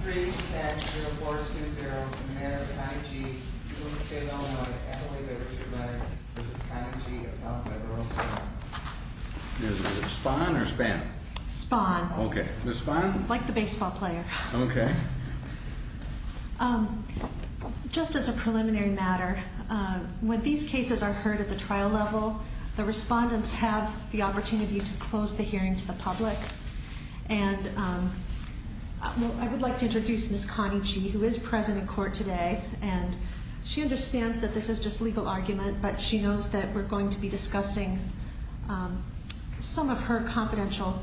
310-0420, in the matter of Connie G, who was a state alumni at the way they were treated by Mrs. Connie G, about the girl's spawn. Is it spawn or span? Spawn. Okay, the spawn? Like the baseball player. Okay. Just as a preliminary matter, when these cases are heard at the trial level, the respondents have the opportunity to close the hearing to the public. And I would like to introduce Ms. Connie G, who is present in court today. And she understands that this is just legal argument, but she knows that we're going to be discussing some of her confidential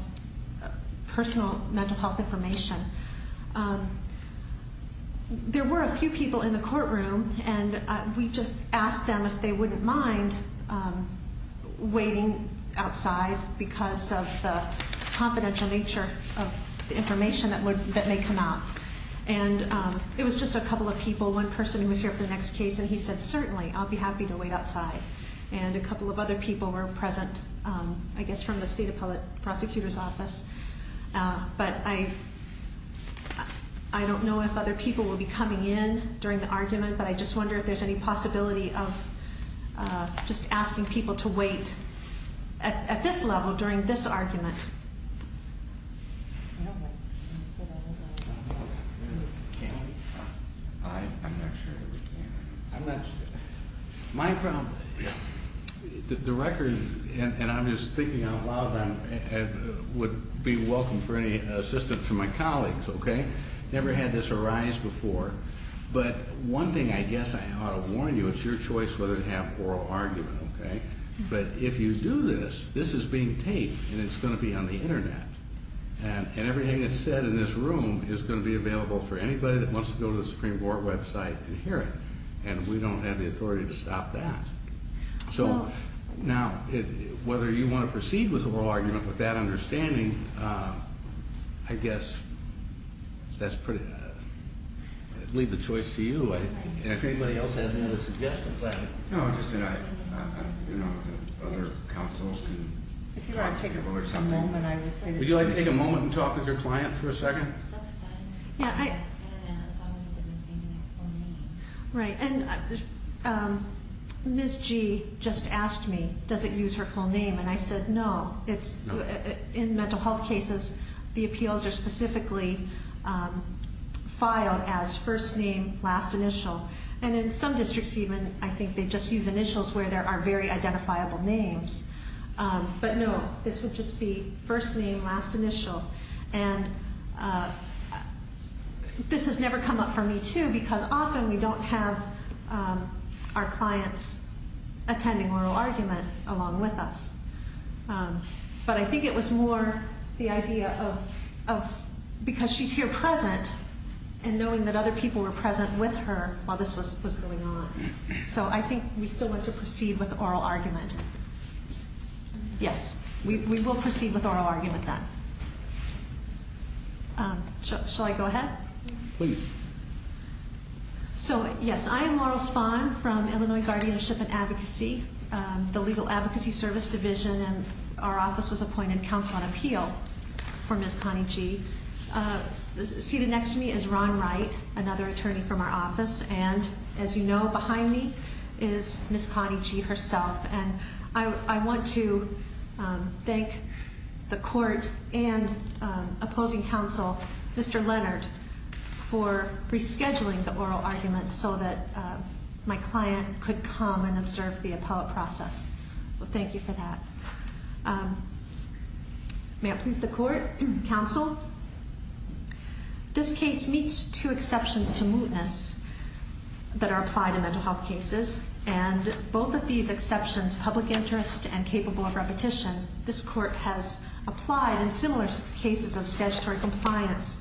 personal mental health information. There were a few people in the courtroom, and we just asked them if they wouldn't mind waiting outside because of the confidential nature of the information that may come out. And it was just a couple of people, one person who was here for the next case, and he said, certainly, I'll be happy to wait outside. And a couple of other people were present, I guess, from the state prosecutor's office. But I don't know if other people will be coming in during the argument, but I just wonder if there's any possibility of just asking people to wait at this level during this argument. I'm not sure that we can. My problem, the record, and I'm just thinking out loud, would be welcome for any assistance from my colleagues, okay? Never had this arise before, but one thing I guess I ought to warn you, it's your choice whether to have oral argument, okay? But if you do this, this is being taped, and it's going to be on the Internet. And everything that's said in this room is going to be available for anybody that wants to go to the Supreme Court website and hear it. And we don't have the authority to stop that. So now, whether you want to proceed with the oral argument with that understanding, I guess that's pretty, I leave the choice to you. And if anybody else has any other suggestions, I- No, just that I, you know, other counsel can- If you want to take a moment, I would say- Would you like to take a moment and talk with your client for a second? That's fine. Yeah, I- Right, and Ms. G just asked me, does it use her full name? And I said, no. In mental health cases, the appeals are specifically filed as first name, last initial. And in some districts even, I think they just use initials where there are very identifiable names. But no, this would just be first name, last initial. And this has never come up for me too, because often we don't have our clients attending oral argument along with us. But I think it was more the idea of, because she's here present, and knowing that other people were present with her while this was going on. So I think we still want to proceed with oral argument. Yes, we will proceed with oral argument then. Shall I go ahead? Please. So, yes, I am Laurel Spahn from Illinois Guardianship and Advocacy, the Legal Advocacy Service Division. And our office was appointed Counsel on Appeal for Ms. Connie G. Seated next to me is Ron Wright, another attorney from our office. And as you know, behind me is Ms. Connie G herself. And I want to thank the court and opposing counsel, Mr. Leonard, for rescheduling the oral argument so that my client could come and observe the appellate process. So thank you for that. May it please the court, counsel, this case meets two exceptions to mootness that are applied in mental health cases. And both of these exceptions, public interest and capable of repetition, this court has applied in similar cases of statutory compliance,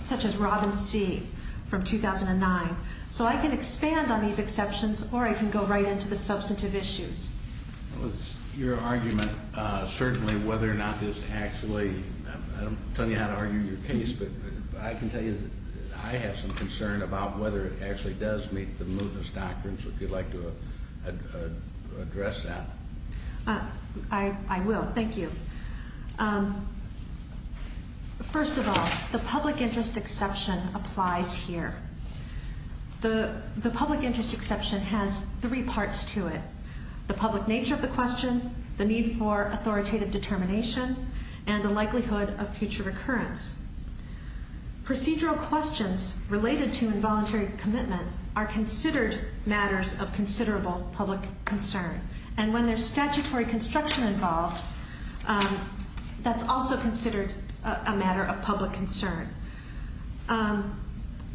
such as Robin C. from 2009. So I can expand on these exceptions or I can go right into the substantive issues. Your argument, certainly whether or not this actually, I don't tell you how to argue your case, but I can tell you that I have some concern about whether it actually does meet the mootness doctrine. So if you'd like to address that. I will. Thank you. First of all, the public interest exception applies here. The public interest exception has three parts to it. The public nature of the question, the need for authoritative determination, and the likelihood of future recurrence. Procedural questions related to involuntary commitment are considered matters of considerable public concern. And when there's statutory construction involved, that's also considered a matter of public concern.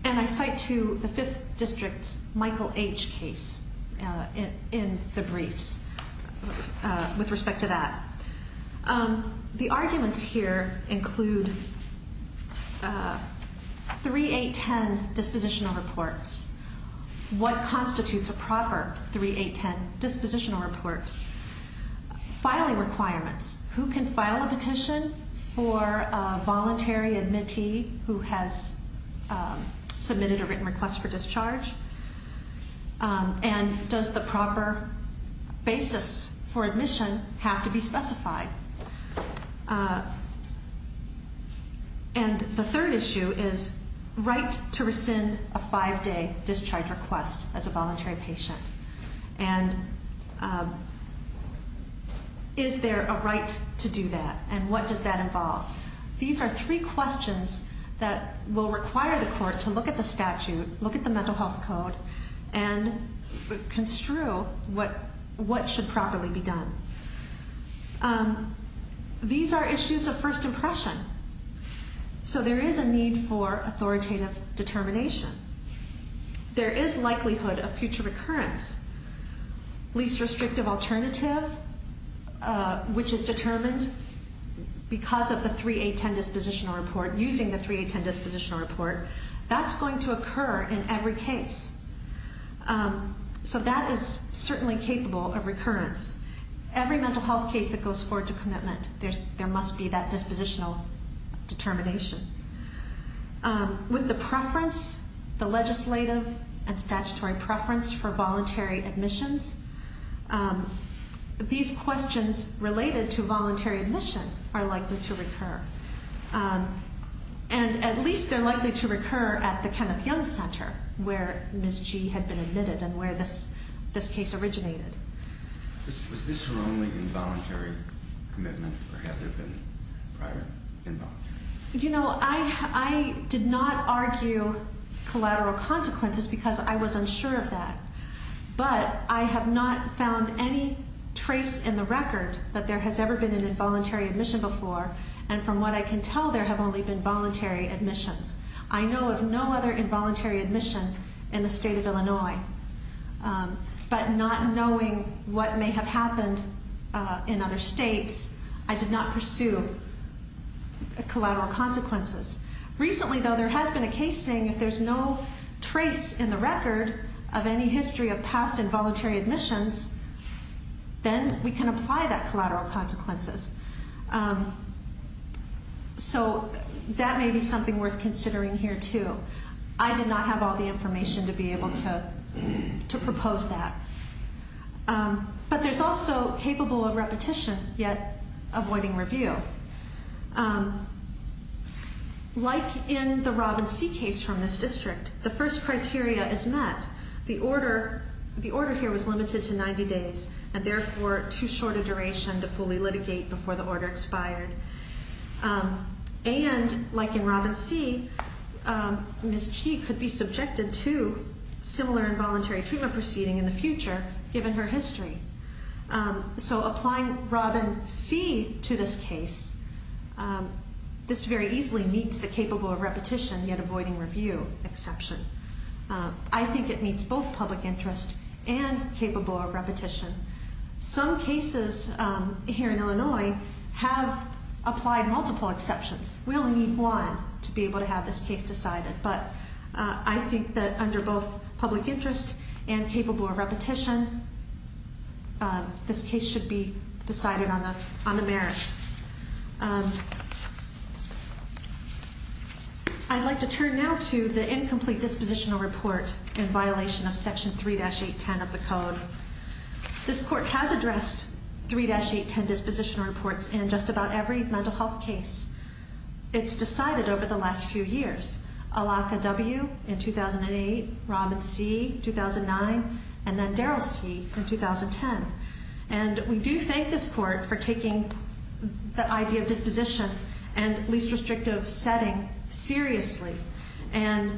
And I cite to the 5th District's Michael H. case in the briefs with respect to that. The arguments here include 3.8.10 dispositional reports. What constitutes a proper 3.8.10 dispositional report? Filing requirements. Who can file a petition for a voluntary admittee who has submitted a written request for discharge? And does the proper basis for admission have to be specified? And the third issue is right to rescind a five-day discharge request as a voluntary patient. And is there a right to do that? And what does that involve? These are three questions that will require the court to look at the statute, look at the mental health code, and construe what should properly be done. These are issues of first impression. So there is a need for authoritative determination. There is likelihood of future recurrence. Least restrictive alternative, which is determined because of the 3.8.10 dispositional report, using the 3.8.10 dispositional report, that's going to occur in every case. So that is certainly capable of recurrence. Every mental health case that goes forward to commitment, there must be that dispositional determination. With the preference, the legislative and statutory preference for voluntary admissions, these questions related to voluntary admission are likely to recur. And at least they're likely to recur at the Kenneth Young Center, where Ms. G had been admitted and where this case originated. Was this her only involuntary commitment, or had there been prior involuntary? You know, I did not argue collateral consequences because I was unsure of that. But I have not found any trace in the record that there has ever been an involuntary admission before. And from what I can tell, there have only been voluntary admissions. I know of no other involuntary admission in the state of Illinois. But not knowing what may have happened in other states, I did not pursue collateral consequences. Recently, though, there has been a case saying if there's no trace in the record of any history of past involuntary admissions, then we can apply that collateral consequences. So that may be something worth considering here, too. I did not have all the information to be able to propose that. But there's also capable of repetition, yet avoiding review. Like in the Robin C case from this district, the first criteria is met. The order here was limited to 90 days, and therefore too short a duration to fully litigate before the order expired. And like in Robin C, Ms. Chi could be subjected to similar involuntary treatment proceeding in the future, given her history. So applying Robin C to this case, this very easily meets the capable of repetition, yet avoiding review exception. I think it meets both public interest and capable of repetition. Some cases here in Illinois have applied multiple exceptions. We only need one to be able to have this case decided. But I think that under both public interest and capable of repetition, this case should be decided on the merits. I'd like to turn now to the incomplete dispositional report in violation of Section 3-810 of the Code. This Court has addressed 3-810 dispositional reports in just about every mental health case. It's decided over the last few years. Alaka W. in 2008, Robin C. 2009, and then Darrell C. in 2010. And we do thank this Court for taking the idea of disposition and least restrictive setting seriously, and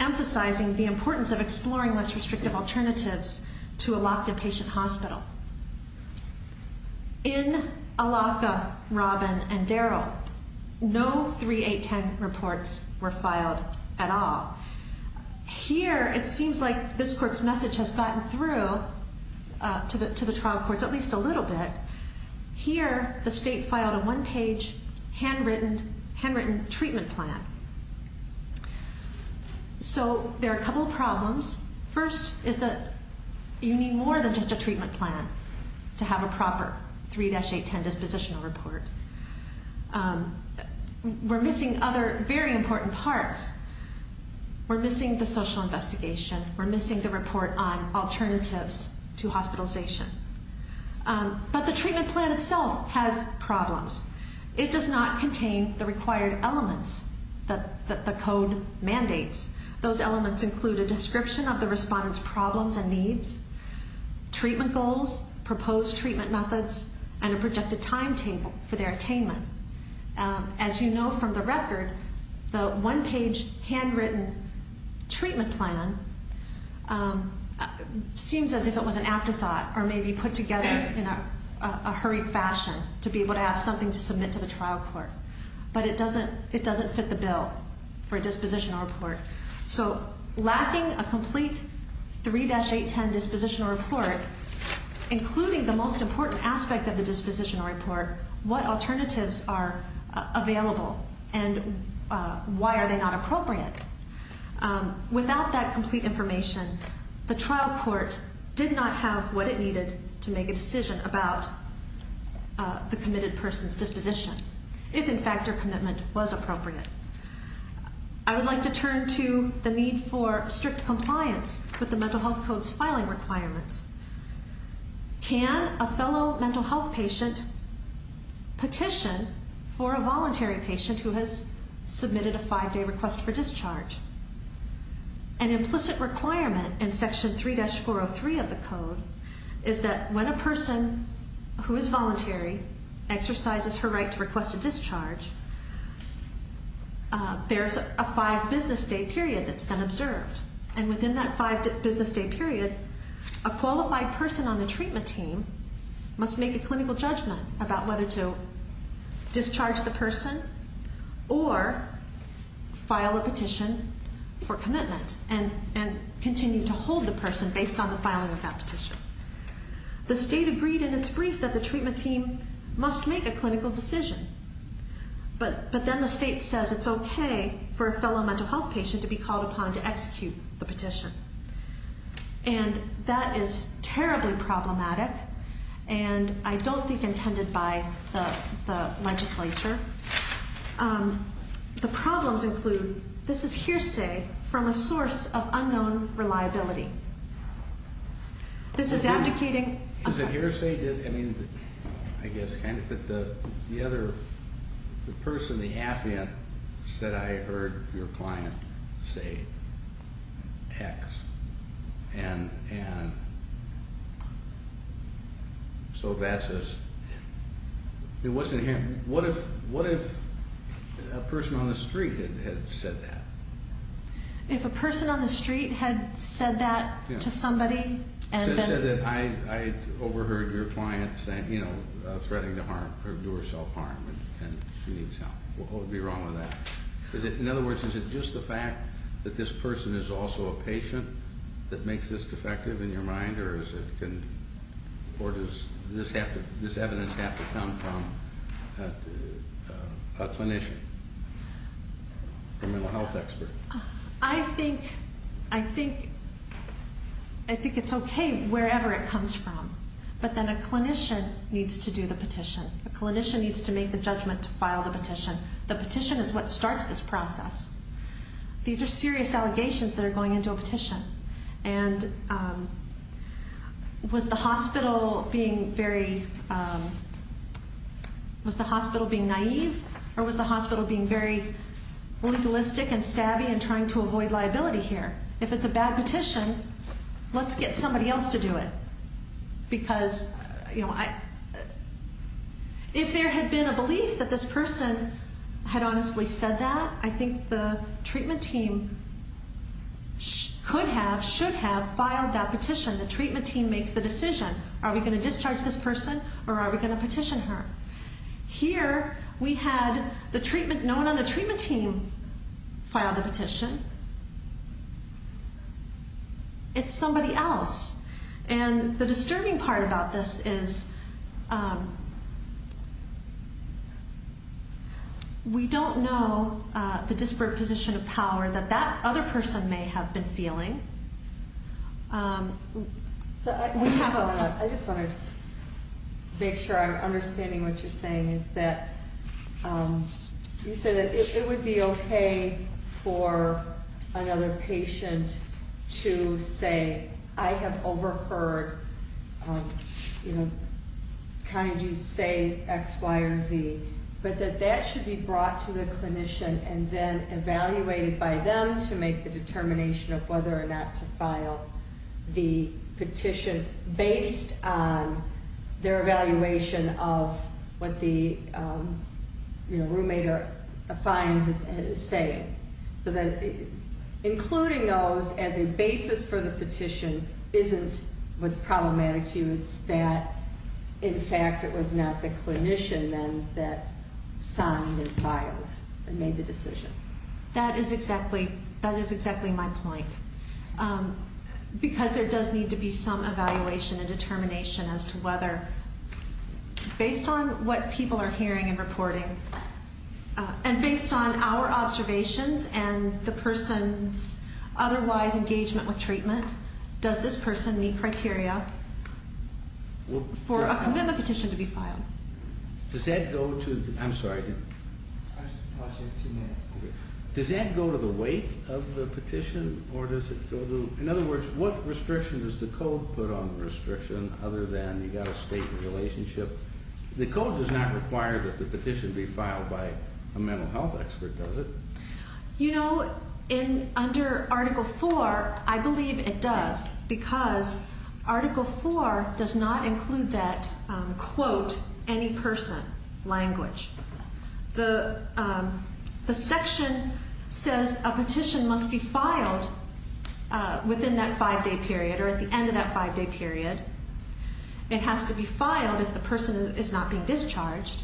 emphasizing the importance of exploring less restrictive alternatives to a locked in patient hospital. In Alaka, Robin, and Darrell, no 3-810 reports were filed at all. Here, it seems like this Court's message has gotten through to the trial courts at least a little bit. Here, the State filed a one-page, handwritten treatment plan. So there are a couple of problems. First is that you need more than just a treatment plan to have a proper 3-810 dispositional report. We're missing other very important parts. We're missing the social investigation. We're missing the report on alternatives to hospitalization. But the treatment plan itself has problems. It does not contain the required elements that the Code mandates. Those elements include a description of the respondent's problems and needs, treatment goals, proposed treatment methods, and a projected timetable for their attainment. As you know from the record, the one-page, handwritten treatment plan seems as if it was an afterthought or maybe put together in a hurried fashion to be able to have something to submit to the trial court. But it doesn't fit the bill for a dispositional report. So lacking a complete 3-810 dispositional report, including the most important aspect of the dispositional report, what alternatives are available and why are they not appropriate? Without that complete information, the trial court did not have what it needed to make a decision about the committed person's disposition, if, in fact, their commitment was appropriate. I would like to turn to the need for strict compliance with the Mental Health Code's filing requirements. Can a fellow mental health patient petition for a voluntary patient who has submitted a five-day request for discharge? An implicit requirement in Section 3-403 of the Code is that when a person who is voluntary exercises her right to request a discharge, there's a five-business-day period that's then observed. And within that five-business-day period, a qualified person on the treatment team must make a clinical judgment about whether to discharge the person or file a petition for commitment and continue to hold the person based on the filing of that petition. The state agreed in its brief that the treatment team must make a clinical decision, but then the state says it's okay for a fellow mental health patient to be called upon to execute the petition. And that is terribly problematic and I don't think intended by the legislature. The problems include this is hearsay from a source of unknown reliability. This is abdicating. Is it hearsay? I mean, I guess kind of, but the other, the person, the affiant said, I heard your client say X and so that's just, it wasn't hearsay. What if a person on the street had said that? If a person on the street had said that to somebody? She said that I overheard your client saying, you know, threatening to harm or do herself harm and she needs help. What would be wrong with that? In other words, is it just the fact that this person is also a patient that makes this defective in your mind or does this evidence have to come from a clinician, a mental health expert? I think it's okay wherever it comes from, but then a clinician needs to do the petition. A clinician needs to make the judgment to file the petition. The petition is what starts this process. These are serious allegations that are going into a petition. And was the hospital being very, was the hospital being naive or was the hospital being very legalistic and savvy and trying to avoid liability here? If it's a bad petition, let's get somebody else to do it because, you know, if there had been a belief that this person had honestly said that, I think the treatment team could have, should have filed that petition. The treatment team makes the decision. Are we going to discharge this person or are we going to petition her? Here we had the treatment, no one on the treatment team filed the petition. It's somebody else. And the disturbing part about this is we don't know the disparate position of power that that other person may have been feeling. I just want to make sure I'm understanding what you're saying is that you said that it would be okay for another patient to say, I have overheard kind of you say X, Y, or Z, but that that should be brought to the clinician and then evaluated by them to make the determination of whether or not to file the petition based on their evaluation of what the, you know, roommate or a client is saying. So that including those as a basis for the petition isn't what's problematic to you. It's that, in fact, it was not the clinician then that signed and filed and made the decision. That is exactly my point because there does need to be some evaluation and determination as to whether based on what people are hearing and reporting and based on our observations and the person's otherwise engagement with treatment, does this person meet criteria for a commitment petition to be filed? Does that go to the weight of the petition or does it go to, in other words, what restriction does the code put on the restriction other than you've got to state the relationship? The code does not require that the petition be filed by a mental health expert, does it? You know, under Article IV, I believe it does because Article IV does not include that, quote, any person language. The section says a petition must be filed within that five-day period or at the end of that five-day period. It has to be filed if the person is not being discharged.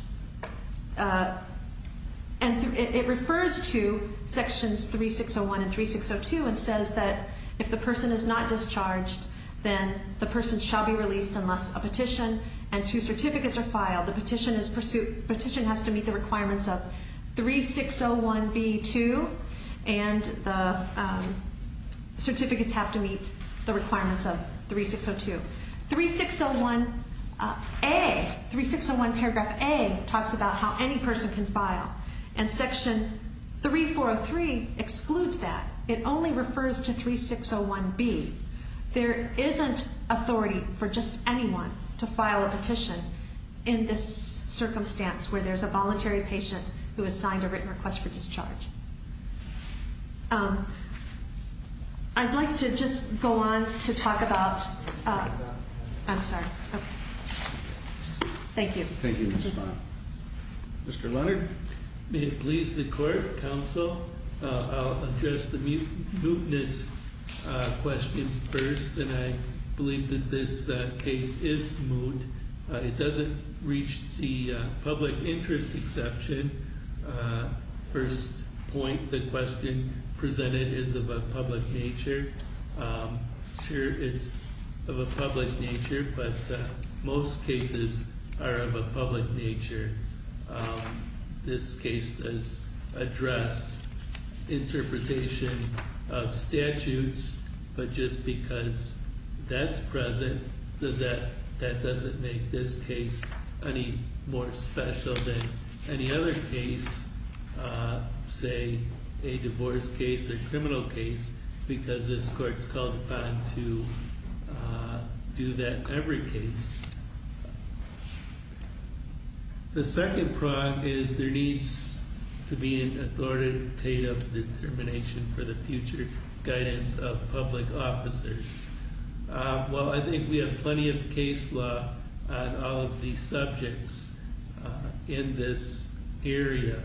And it refers to sections 3601 and 3602 and says that if the person is not discharged, then the person shall be released unless a petition and two certificates are filed. The petition has to meet the requirements of 3601B2 and the certificates have to meet the requirements of 3602. 3601A, 3601 paragraph A, talks about how any person can file. And section 3403 excludes that. It only refers to 3601B. There isn't authority for just anyone to file a petition in this circumstance where there's a voluntary patient who has signed a written request for discharge. I'd like to just go on to talk about... I'm sorry. Okay. Thank you. Thank you, Ms. Vaughn. Mr. Leonard? May it please the Court, Counsel. I'll address the mootness question first, and I believe that this case is moot. It doesn't reach the public interest exception. First point, the question presented is of a public nature. Sure, it's of a public nature, but most cases are of a public nature. This case does address interpretation of statutes, but just because that's present, that doesn't make this case any more special than any other case, say, a divorce case or criminal case, because this Court's called upon to do that every case. The second prong is there needs to be an authoritative determination for the future guidance of public officers. Well, I think we have plenty of case law on all of these subjects in this area.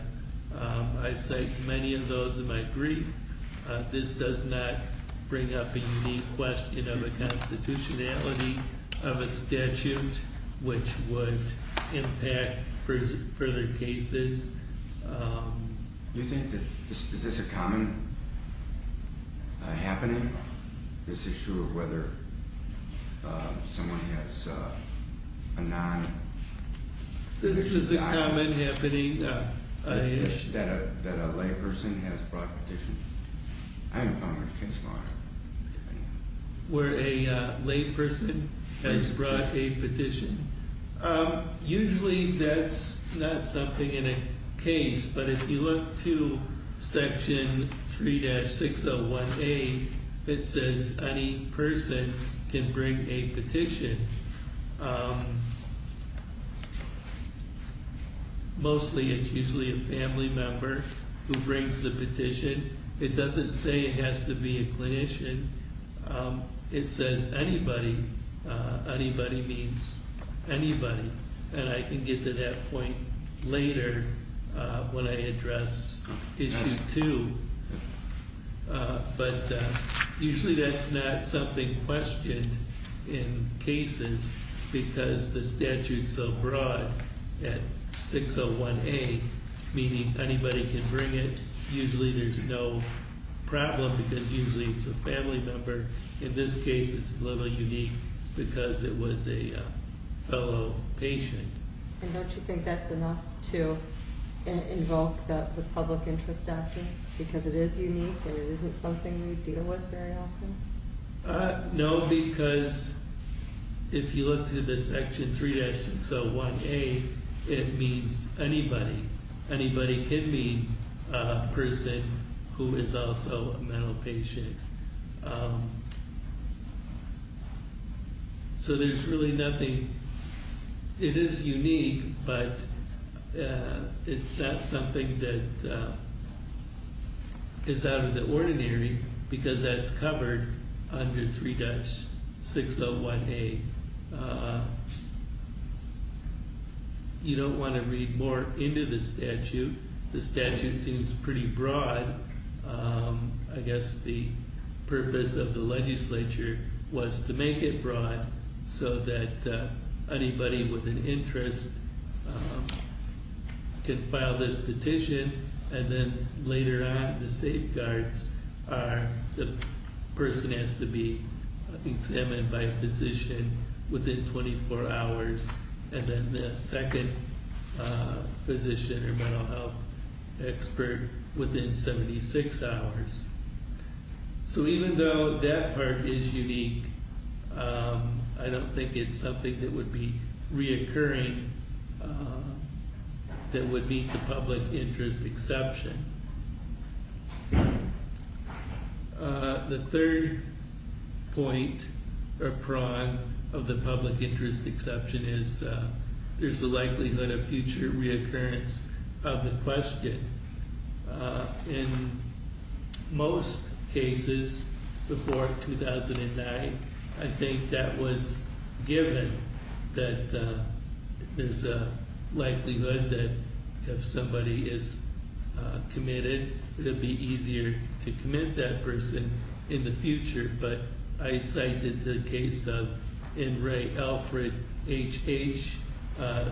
I cite many of those in my brief. This does not bring up a unique question of a constitutionality of a statute, which would impact further cases. Is this a common happening, this issue of whether someone has a non- This is a common happening issue. That a layperson has brought a petition. I haven't found much case law on it. Where a layperson has brought a petition. Usually that's not something in a case, but if you look to Section 3-601A, it says any person can bring a petition. Mostly it's usually a family member who brings the petition. It doesn't say it has to be a clinician. It says anybody. Anybody means anybody. And I can get to that point later when I address Issue 2. But usually that's not something questioned in cases, because the statute's so broad at 601A, meaning anybody can bring it. Usually there's no problem, because usually it's a family member. In this case, it's a little unique, because it was a fellow patient. And don't you think that's enough to invoke the public interest action? Because it is unique, and it isn't something we deal with very often? No, because if you look to this Section 3-601A, it means anybody. Anybody can be a person who is also a mental patient. So there's really nothing. It is unique, but it's not something that is out of the ordinary, because that's covered under 3-601A. You don't want to read more into the statute. The statute seems pretty broad. I guess the purpose of the legislature was to make it broad so that anybody with an interest can file this petition, and then later on the safeguards are the person has to be examined by physician within 24 hours, and then the second physician or mental health expert within 76 hours. So even though that part is unique, I don't think it's something that would be reoccurring that would meet the public interest exception. The third point or prong of the public interest exception is there's a likelihood of future reoccurrence of the question. In most cases before 2009, I think that was given, that there's a likelihood that if somebody is committed, it would be easier to commit that person in the future, but I cited the case of N. Ray Alfred, H.H.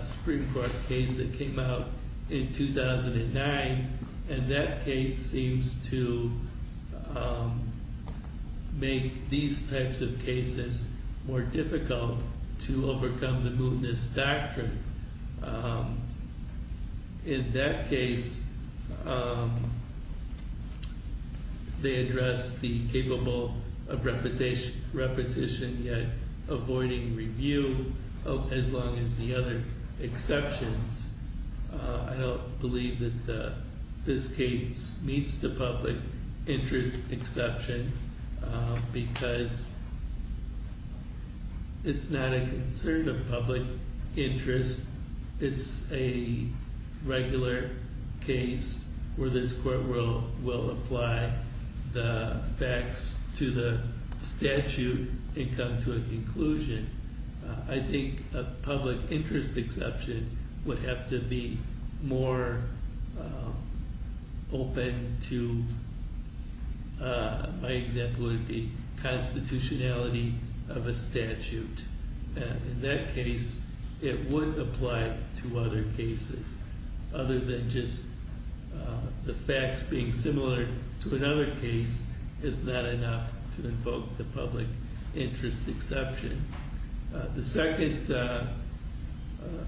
Supreme Court case that came out in 2009, and that case seems to make these types of cases more difficult to overcome the mootness doctrine. In that case, they address the capable of repetition yet avoiding review, as long as the other exceptions. I don't believe that this case meets the public interest exception, because it's not a concern of public interest. It's a regular case where this court will apply the facts to the statute and come to a conclusion. I think a public interest exception would have to be more open to, my example would be constitutionality of a statute. In that case, it would apply to other cases, other than just the facts being similar to another case is not enough to invoke the public interest exception. The second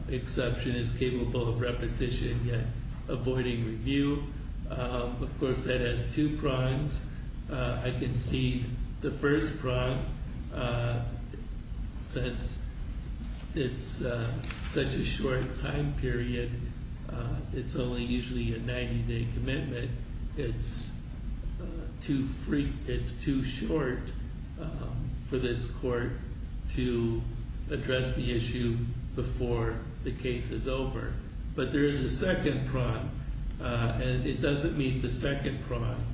exception is capable of repetition yet avoiding review. Of course, that has two prongs. I can see the first prong, since it's such a short time period, it's only usually a 90-day commitment, it's too short for this court to address the issue before the case is over. But there is a second prong, and it doesn't meet the second prong.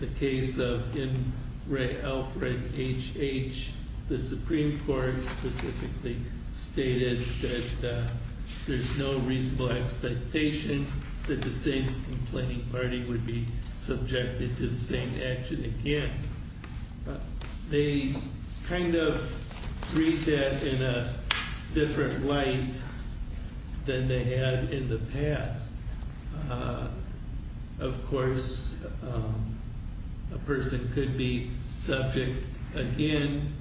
The case of N. Ray Alfred, H.H., the Supreme Court specifically stated that there's no reasonable expectation that the same complaining party would be subjected to the same action again. They kind of read that in a different light than they had in the past. Of course, a person could be subject again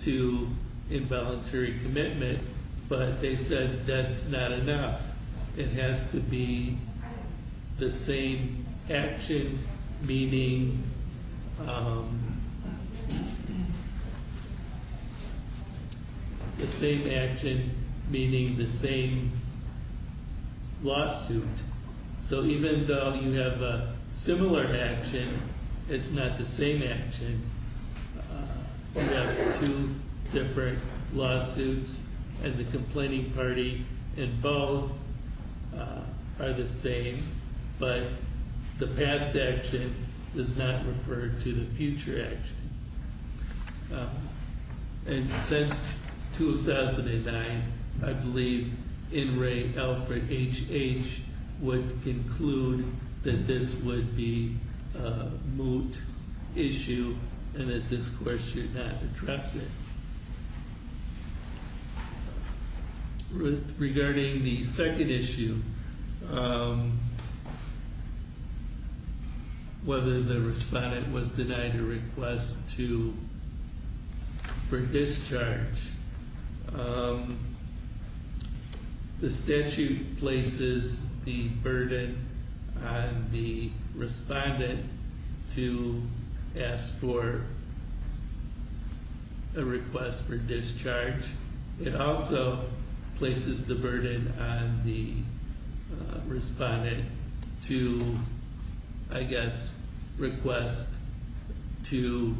to involuntary commitment, but they said that's not enough. It has to be the same action, meaning the same lawsuit. So even though you have a similar action, it's not the same action. You have two different lawsuits, and the complaining party in both are the same, but the past action does not refer to the future action. And since 2009, I believe N. Ray Alfred, H.H. would conclude that this would be a moot issue and that this court should not address it. Regarding the second issue, whether the respondent was denied a request for discharge, the statute places the burden on the respondent to ask for a request for discharge. It also places the burden on the respondent to, I guess, request to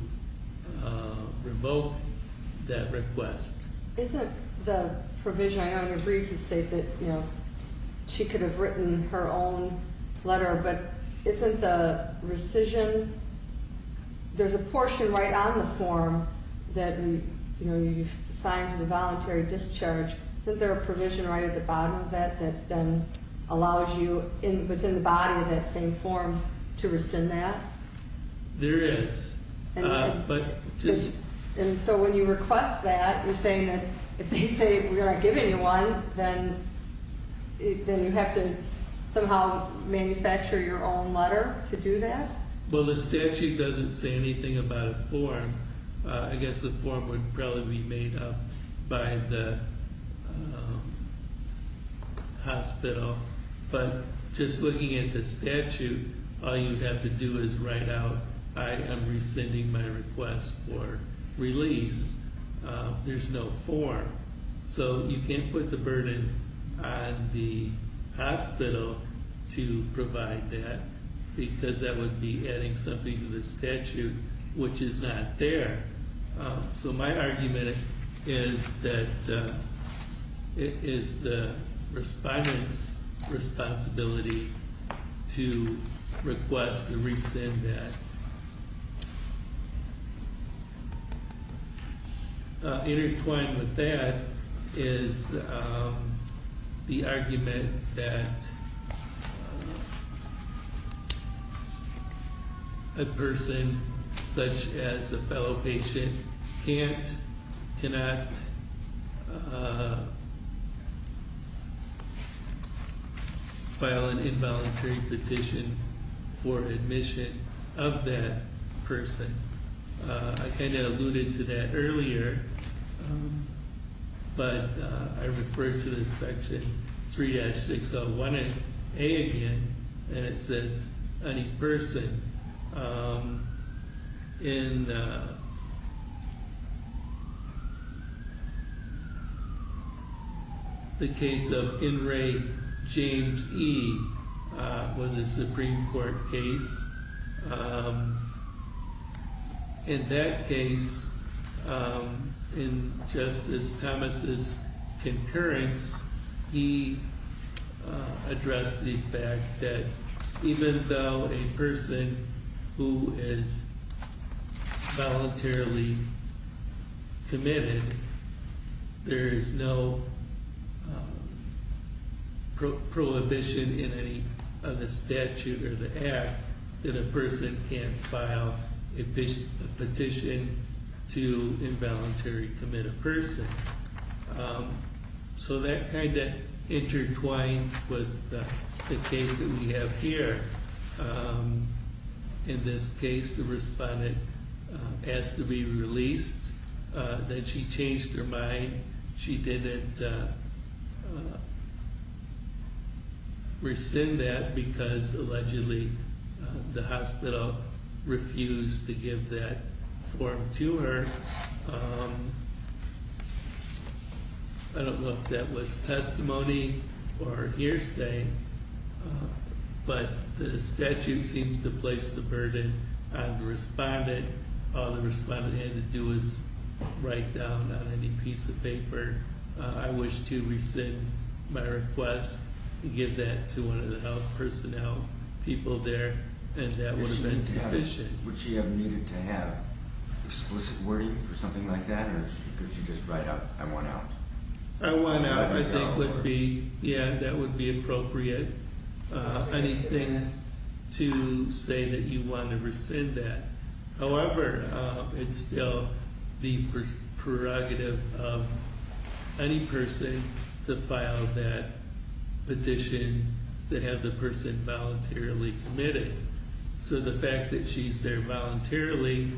revoke that request. Isn't the provision, I know in your brief you say that she could have written her own letter, but isn't the rescission, there's a portion right on the form that you've signed for the voluntary discharge. Isn't there a provision right at the bottom of that that then allows you within the body of that same form to rescind that? There is. And so when you request that, you're saying that if they say we aren't giving you one, then you have to somehow manufacture your own letter to do that? Well, the statute doesn't say anything about a form. I guess the form would probably be made up by the hospital. But just looking at the statute, all you'd have to do is write out, I am rescinding my request for release. There's no form. So you can't put the burden on the hospital to provide that, because that would be adding something to the statute which is not there. So my argument is that it is the respondent's responsibility to request or rescind that. Intertwined with that is the argument that a person such as a fellow patient can't, cannot file an involuntary petition for admission of that person. I kind of alluded to that earlier, but I refer to this section 3-601A again, and it says, any person in the case of in-rate James E. was a Supreme Court case. In that case, in Justice Thomas' concurrence, he addressed the fact that even though a person who is voluntarily committed, there is no prohibition in any of the statute or the Act that a person can't file a petition to involuntarily commit a person. So that kind of intertwines with the case that we have here. In this case, the respondent asked to be released. Then she changed her mind. She didn't rescind that because allegedly the hospital refused to give that form to her. I don't know if that was testimony or hearsay, but the statute seemed to place the burden on the respondent. All the respondent had to do was write down on any piece of paper, I wish to rescind my request to give that to one of the health personnel people there, and that would have been sufficient. Would she have needed to have explicit wording for something like that, or could she just write out, I want out? I think that would be appropriate. Anything to say that you want to rescind that. However, it's still the prerogative of any person to file that petition to have the person voluntarily committed. So the fact that she's there voluntarily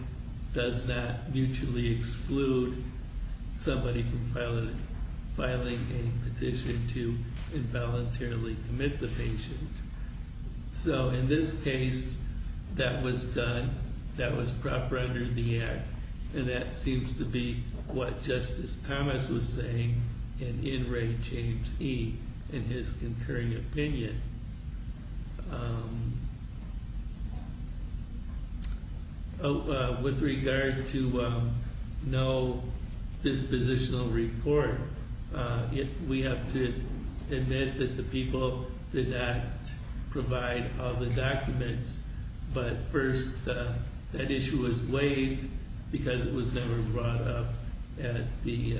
does not mutually exclude somebody from filing a petition to involuntarily commit the patient. So in this case, that was done. That was proper under the Act, and that seems to be what Justice Thomas was saying and in Ray James E. in his concurring opinion. With regard to no dispositional report, we have to admit that the people did not provide all the documents, but first that issue was waived because it was never brought up at the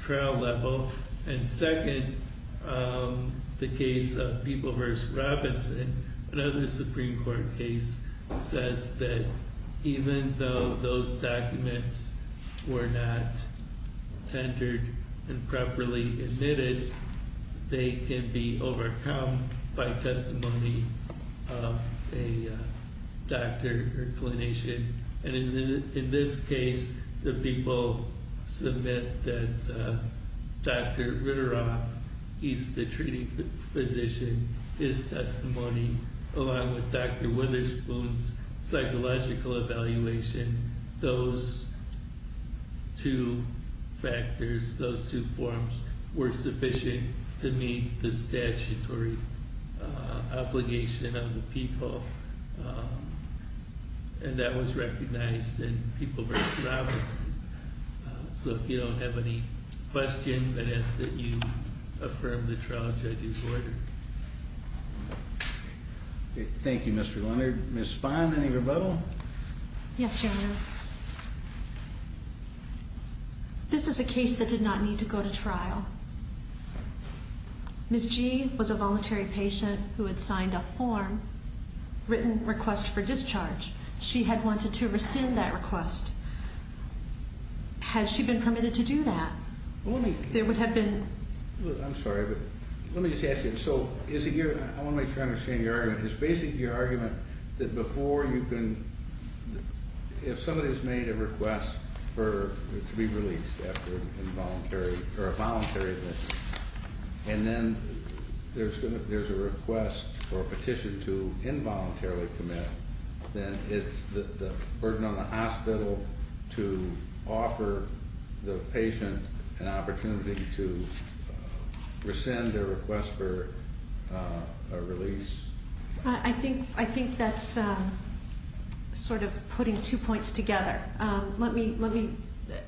trial level, and second, the case of People v. Robinson, another Supreme Court case, says that even though those documents were not tendered and properly admitted, they can be overcome by testimony of a doctor or clinician. In this case, the people submit that Dr. Ritteroff, he's the treating physician, his testimony along with Dr. Witherspoon's psychological evaluation, those two factors, those two forms, were sufficient to meet the statutory obligation of the people, and that was recognized in People v. Robinson. So if you don't have any questions, I'd ask that you affirm the trial judge's order. Thank you, Mr. Leonard. Ms. Spahn, any rebuttal? Yes, General. This is a case that did not need to go to trial. Ms. G. was a voluntary patient who had signed a form written request for discharge. She had wanted to rescind that request. Has she been permitted to do that? There would have been... I'm sorry, but let me just ask you, so is it your, I want to make sure I understand your argument, is basically your argument that before you can, if somebody has made a request for it to be released after involuntary, or a voluntary admission, and then there's a request or a petition to involuntarily commit, then it's the burden on the hospital to offer the patient an opportunity to rescind their request for a release? I think that's sort of putting two points together. Let me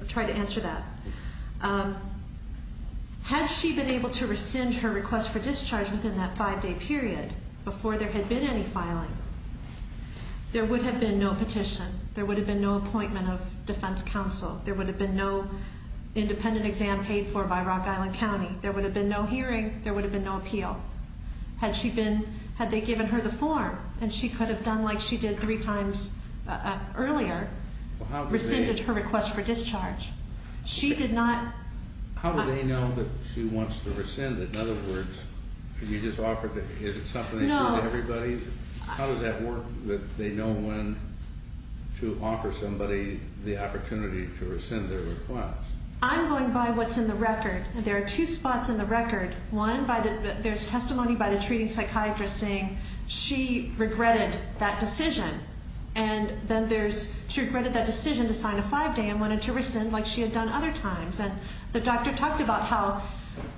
try to answer that. Had she been able to rescind her request for discharge within that five-day period before there had been any filing, there would have been no petition, there would have been no appointment of defense counsel, there would have been no independent exam paid for by Rock Island County, there would have been no hearing, there would have been no appeal. Had she been, had they given her the form, and she could have done like she did three times earlier, rescinded her request for discharge. She did not... How do they know that she wants to rescind it? In other words, you just offered, is it something they do to everybody? No. How does that work that they know when to offer somebody the opportunity to rescind their request? I'm going by what's in the record. There are two spots in the record. One, there's testimony by the treating psychiatrist saying she regretted that decision, and then there's she regretted that decision to sign a five-day and wanted to rescind like she had done other times. And the doctor talked about how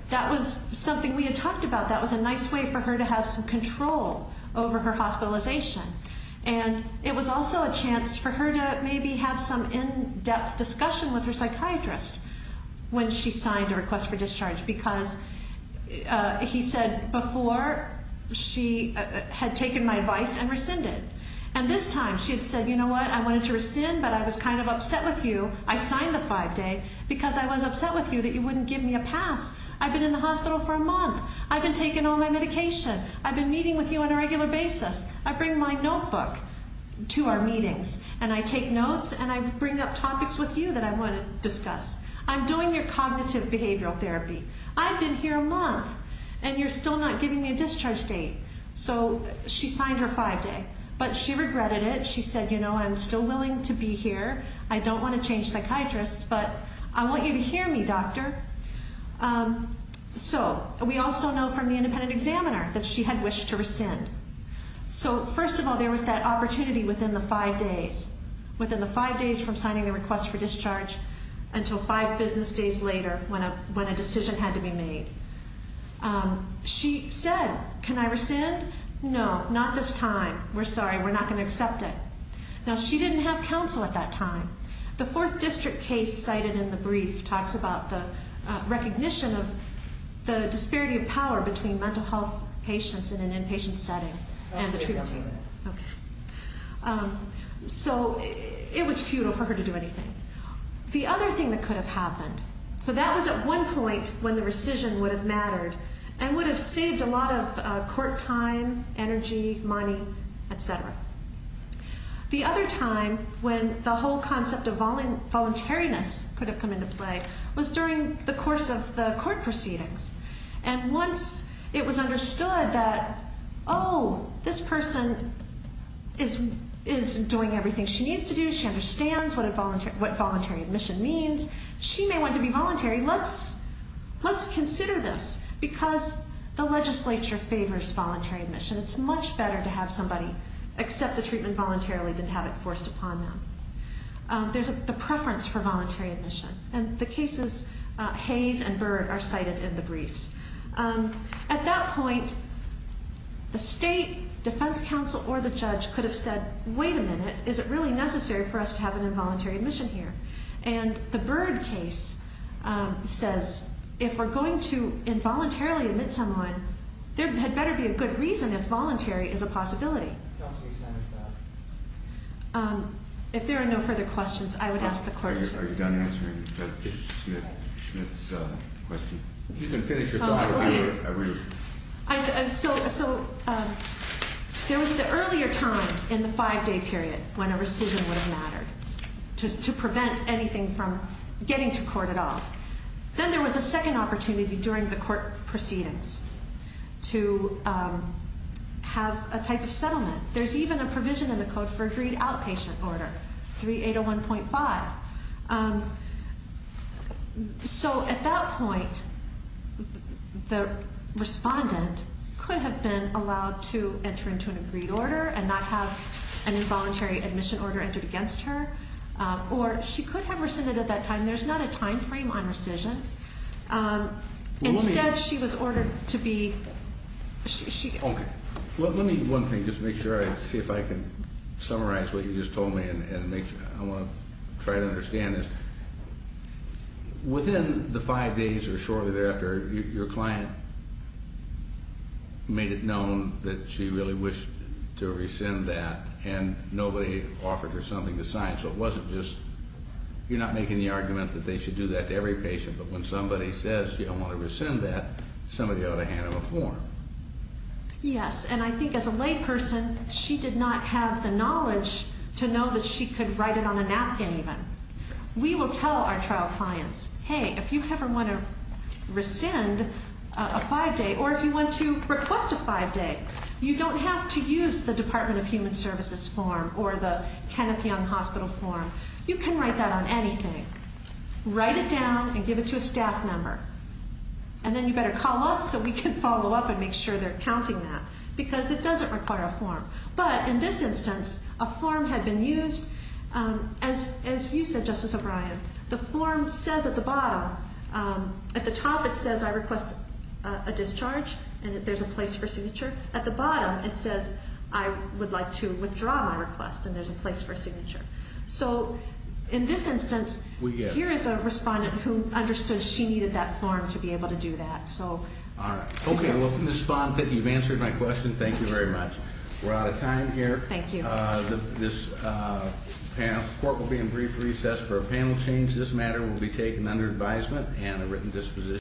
that was something we had talked about. That was a nice way for her to have some control over her hospitalization. And it was also a chance for her to maybe have some in-depth discussion with her psychiatrist when she signed a request for discharge because he said before she had taken my advice and rescinded. And this time she had said, you know what, I wanted to rescind, but I was kind of upset with you. I signed the five-day because I was upset with you that you wouldn't give me a pass. I've been in the hospital for a month. I've been taking all my medication. I've been meeting with you on a regular basis. I bring my notebook to our meetings, and I take notes, and I bring up topics with you that I want to discuss. I'm doing your cognitive behavioral therapy. I've been here a month, and you're still not giving me a discharge date. So she signed her five-day, but she regretted it. She said, you know, I'm still willing to be here. I don't want to change psychiatrists, but I want you to hear me, doctor. So we also know from the independent examiner that she had wished to rescind. So first of all, there was that opportunity within the five days, within the five days from signing the request for discharge until five business days later when a decision had to be made. She said, can I rescind? No, not this time. We're sorry. We're not going to accept it. Now, she didn't have counsel at that time. The fourth district case cited in the brief talks about the recognition of the disparity of power between mental health patients in an inpatient setting and the treatment team. Okay. So it was futile for her to do anything. The other thing that could have happened, so that was at one point when the rescission would have mattered and would have saved a lot of court time, energy, money, et cetera. The other time when the whole concept of voluntariness could have come into play was during the course of the court proceedings. And once it was understood that, oh, this person is doing everything she needs to do, she understands what voluntary admission means, she may want to be voluntary, let's consider this because the legislature favors voluntary admission. It's much better to have somebody accept the treatment voluntarily than to have it forced upon them. There's the preference for voluntary admission, and the cases Hayes and Byrd are cited in the briefs. At that point, the state defense counsel or the judge could have said, wait a minute, is it really necessary for us to have an involuntary admission here? And the Byrd case says if we're going to involuntarily admit someone, there had better be a good reason if voluntary is a possibility. If there are no further questions, I would ask the court. Are you done answering Judge Schmidt's question? You can finish your thought. So there was the earlier time in the five-day period when a rescission would have mattered to prevent anything from getting to court at all. Then there was a second opportunity during the court proceedings to have a type of settlement. There's even a provision in the code for agreed outpatient order, 3801.5. So at that point, the respondent could have been allowed to enter into an agreed order and not have an involuntary admission order entered against her, or she could have rescinded at that time. There's not a time frame on rescission. Instead, she was ordered to be ---- Okay. Well, let me, one thing, just make sure I see if I can summarize what you just told me and I want to try to understand this. Within the five days or shortly thereafter, your client made it known that she really wished to rescind that, and nobody offered her something to sign. So it wasn't just you're not making the argument that they should do that to every patient, but when somebody says you don't want to rescind that, somebody ought to hand them a form. Yes, and I think as a lay person, she did not have the knowledge to know that she could write it on a napkin even. We will tell our trial clients, hey, if you ever want to rescind a five-day or if you want to request a five-day, you don't have to use the Department of Human Services form or the Kenneth Young Hospital form. You can write that on anything. Write it down and give it to a staff member, and then you better call us so we can follow up and make sure they're counting that because it doesn't require a form. But in this instance, a form had been used. As you said, Justice O'Brien, the form says at the bottom, at the top it says I request a discharge and that there's a place for a signature. At the bottom it says I would like to withdraw my request and there's a place for a signature. So in this instance, here is a respondent who understood she needed that form to be able to do that. All right. Okay, I welcome the response. You've answered my question. Thank you very much. We're out of time here. Thank you. This court will be in brief recess for a panel change. This matter will be taken under advisement and a written disposition.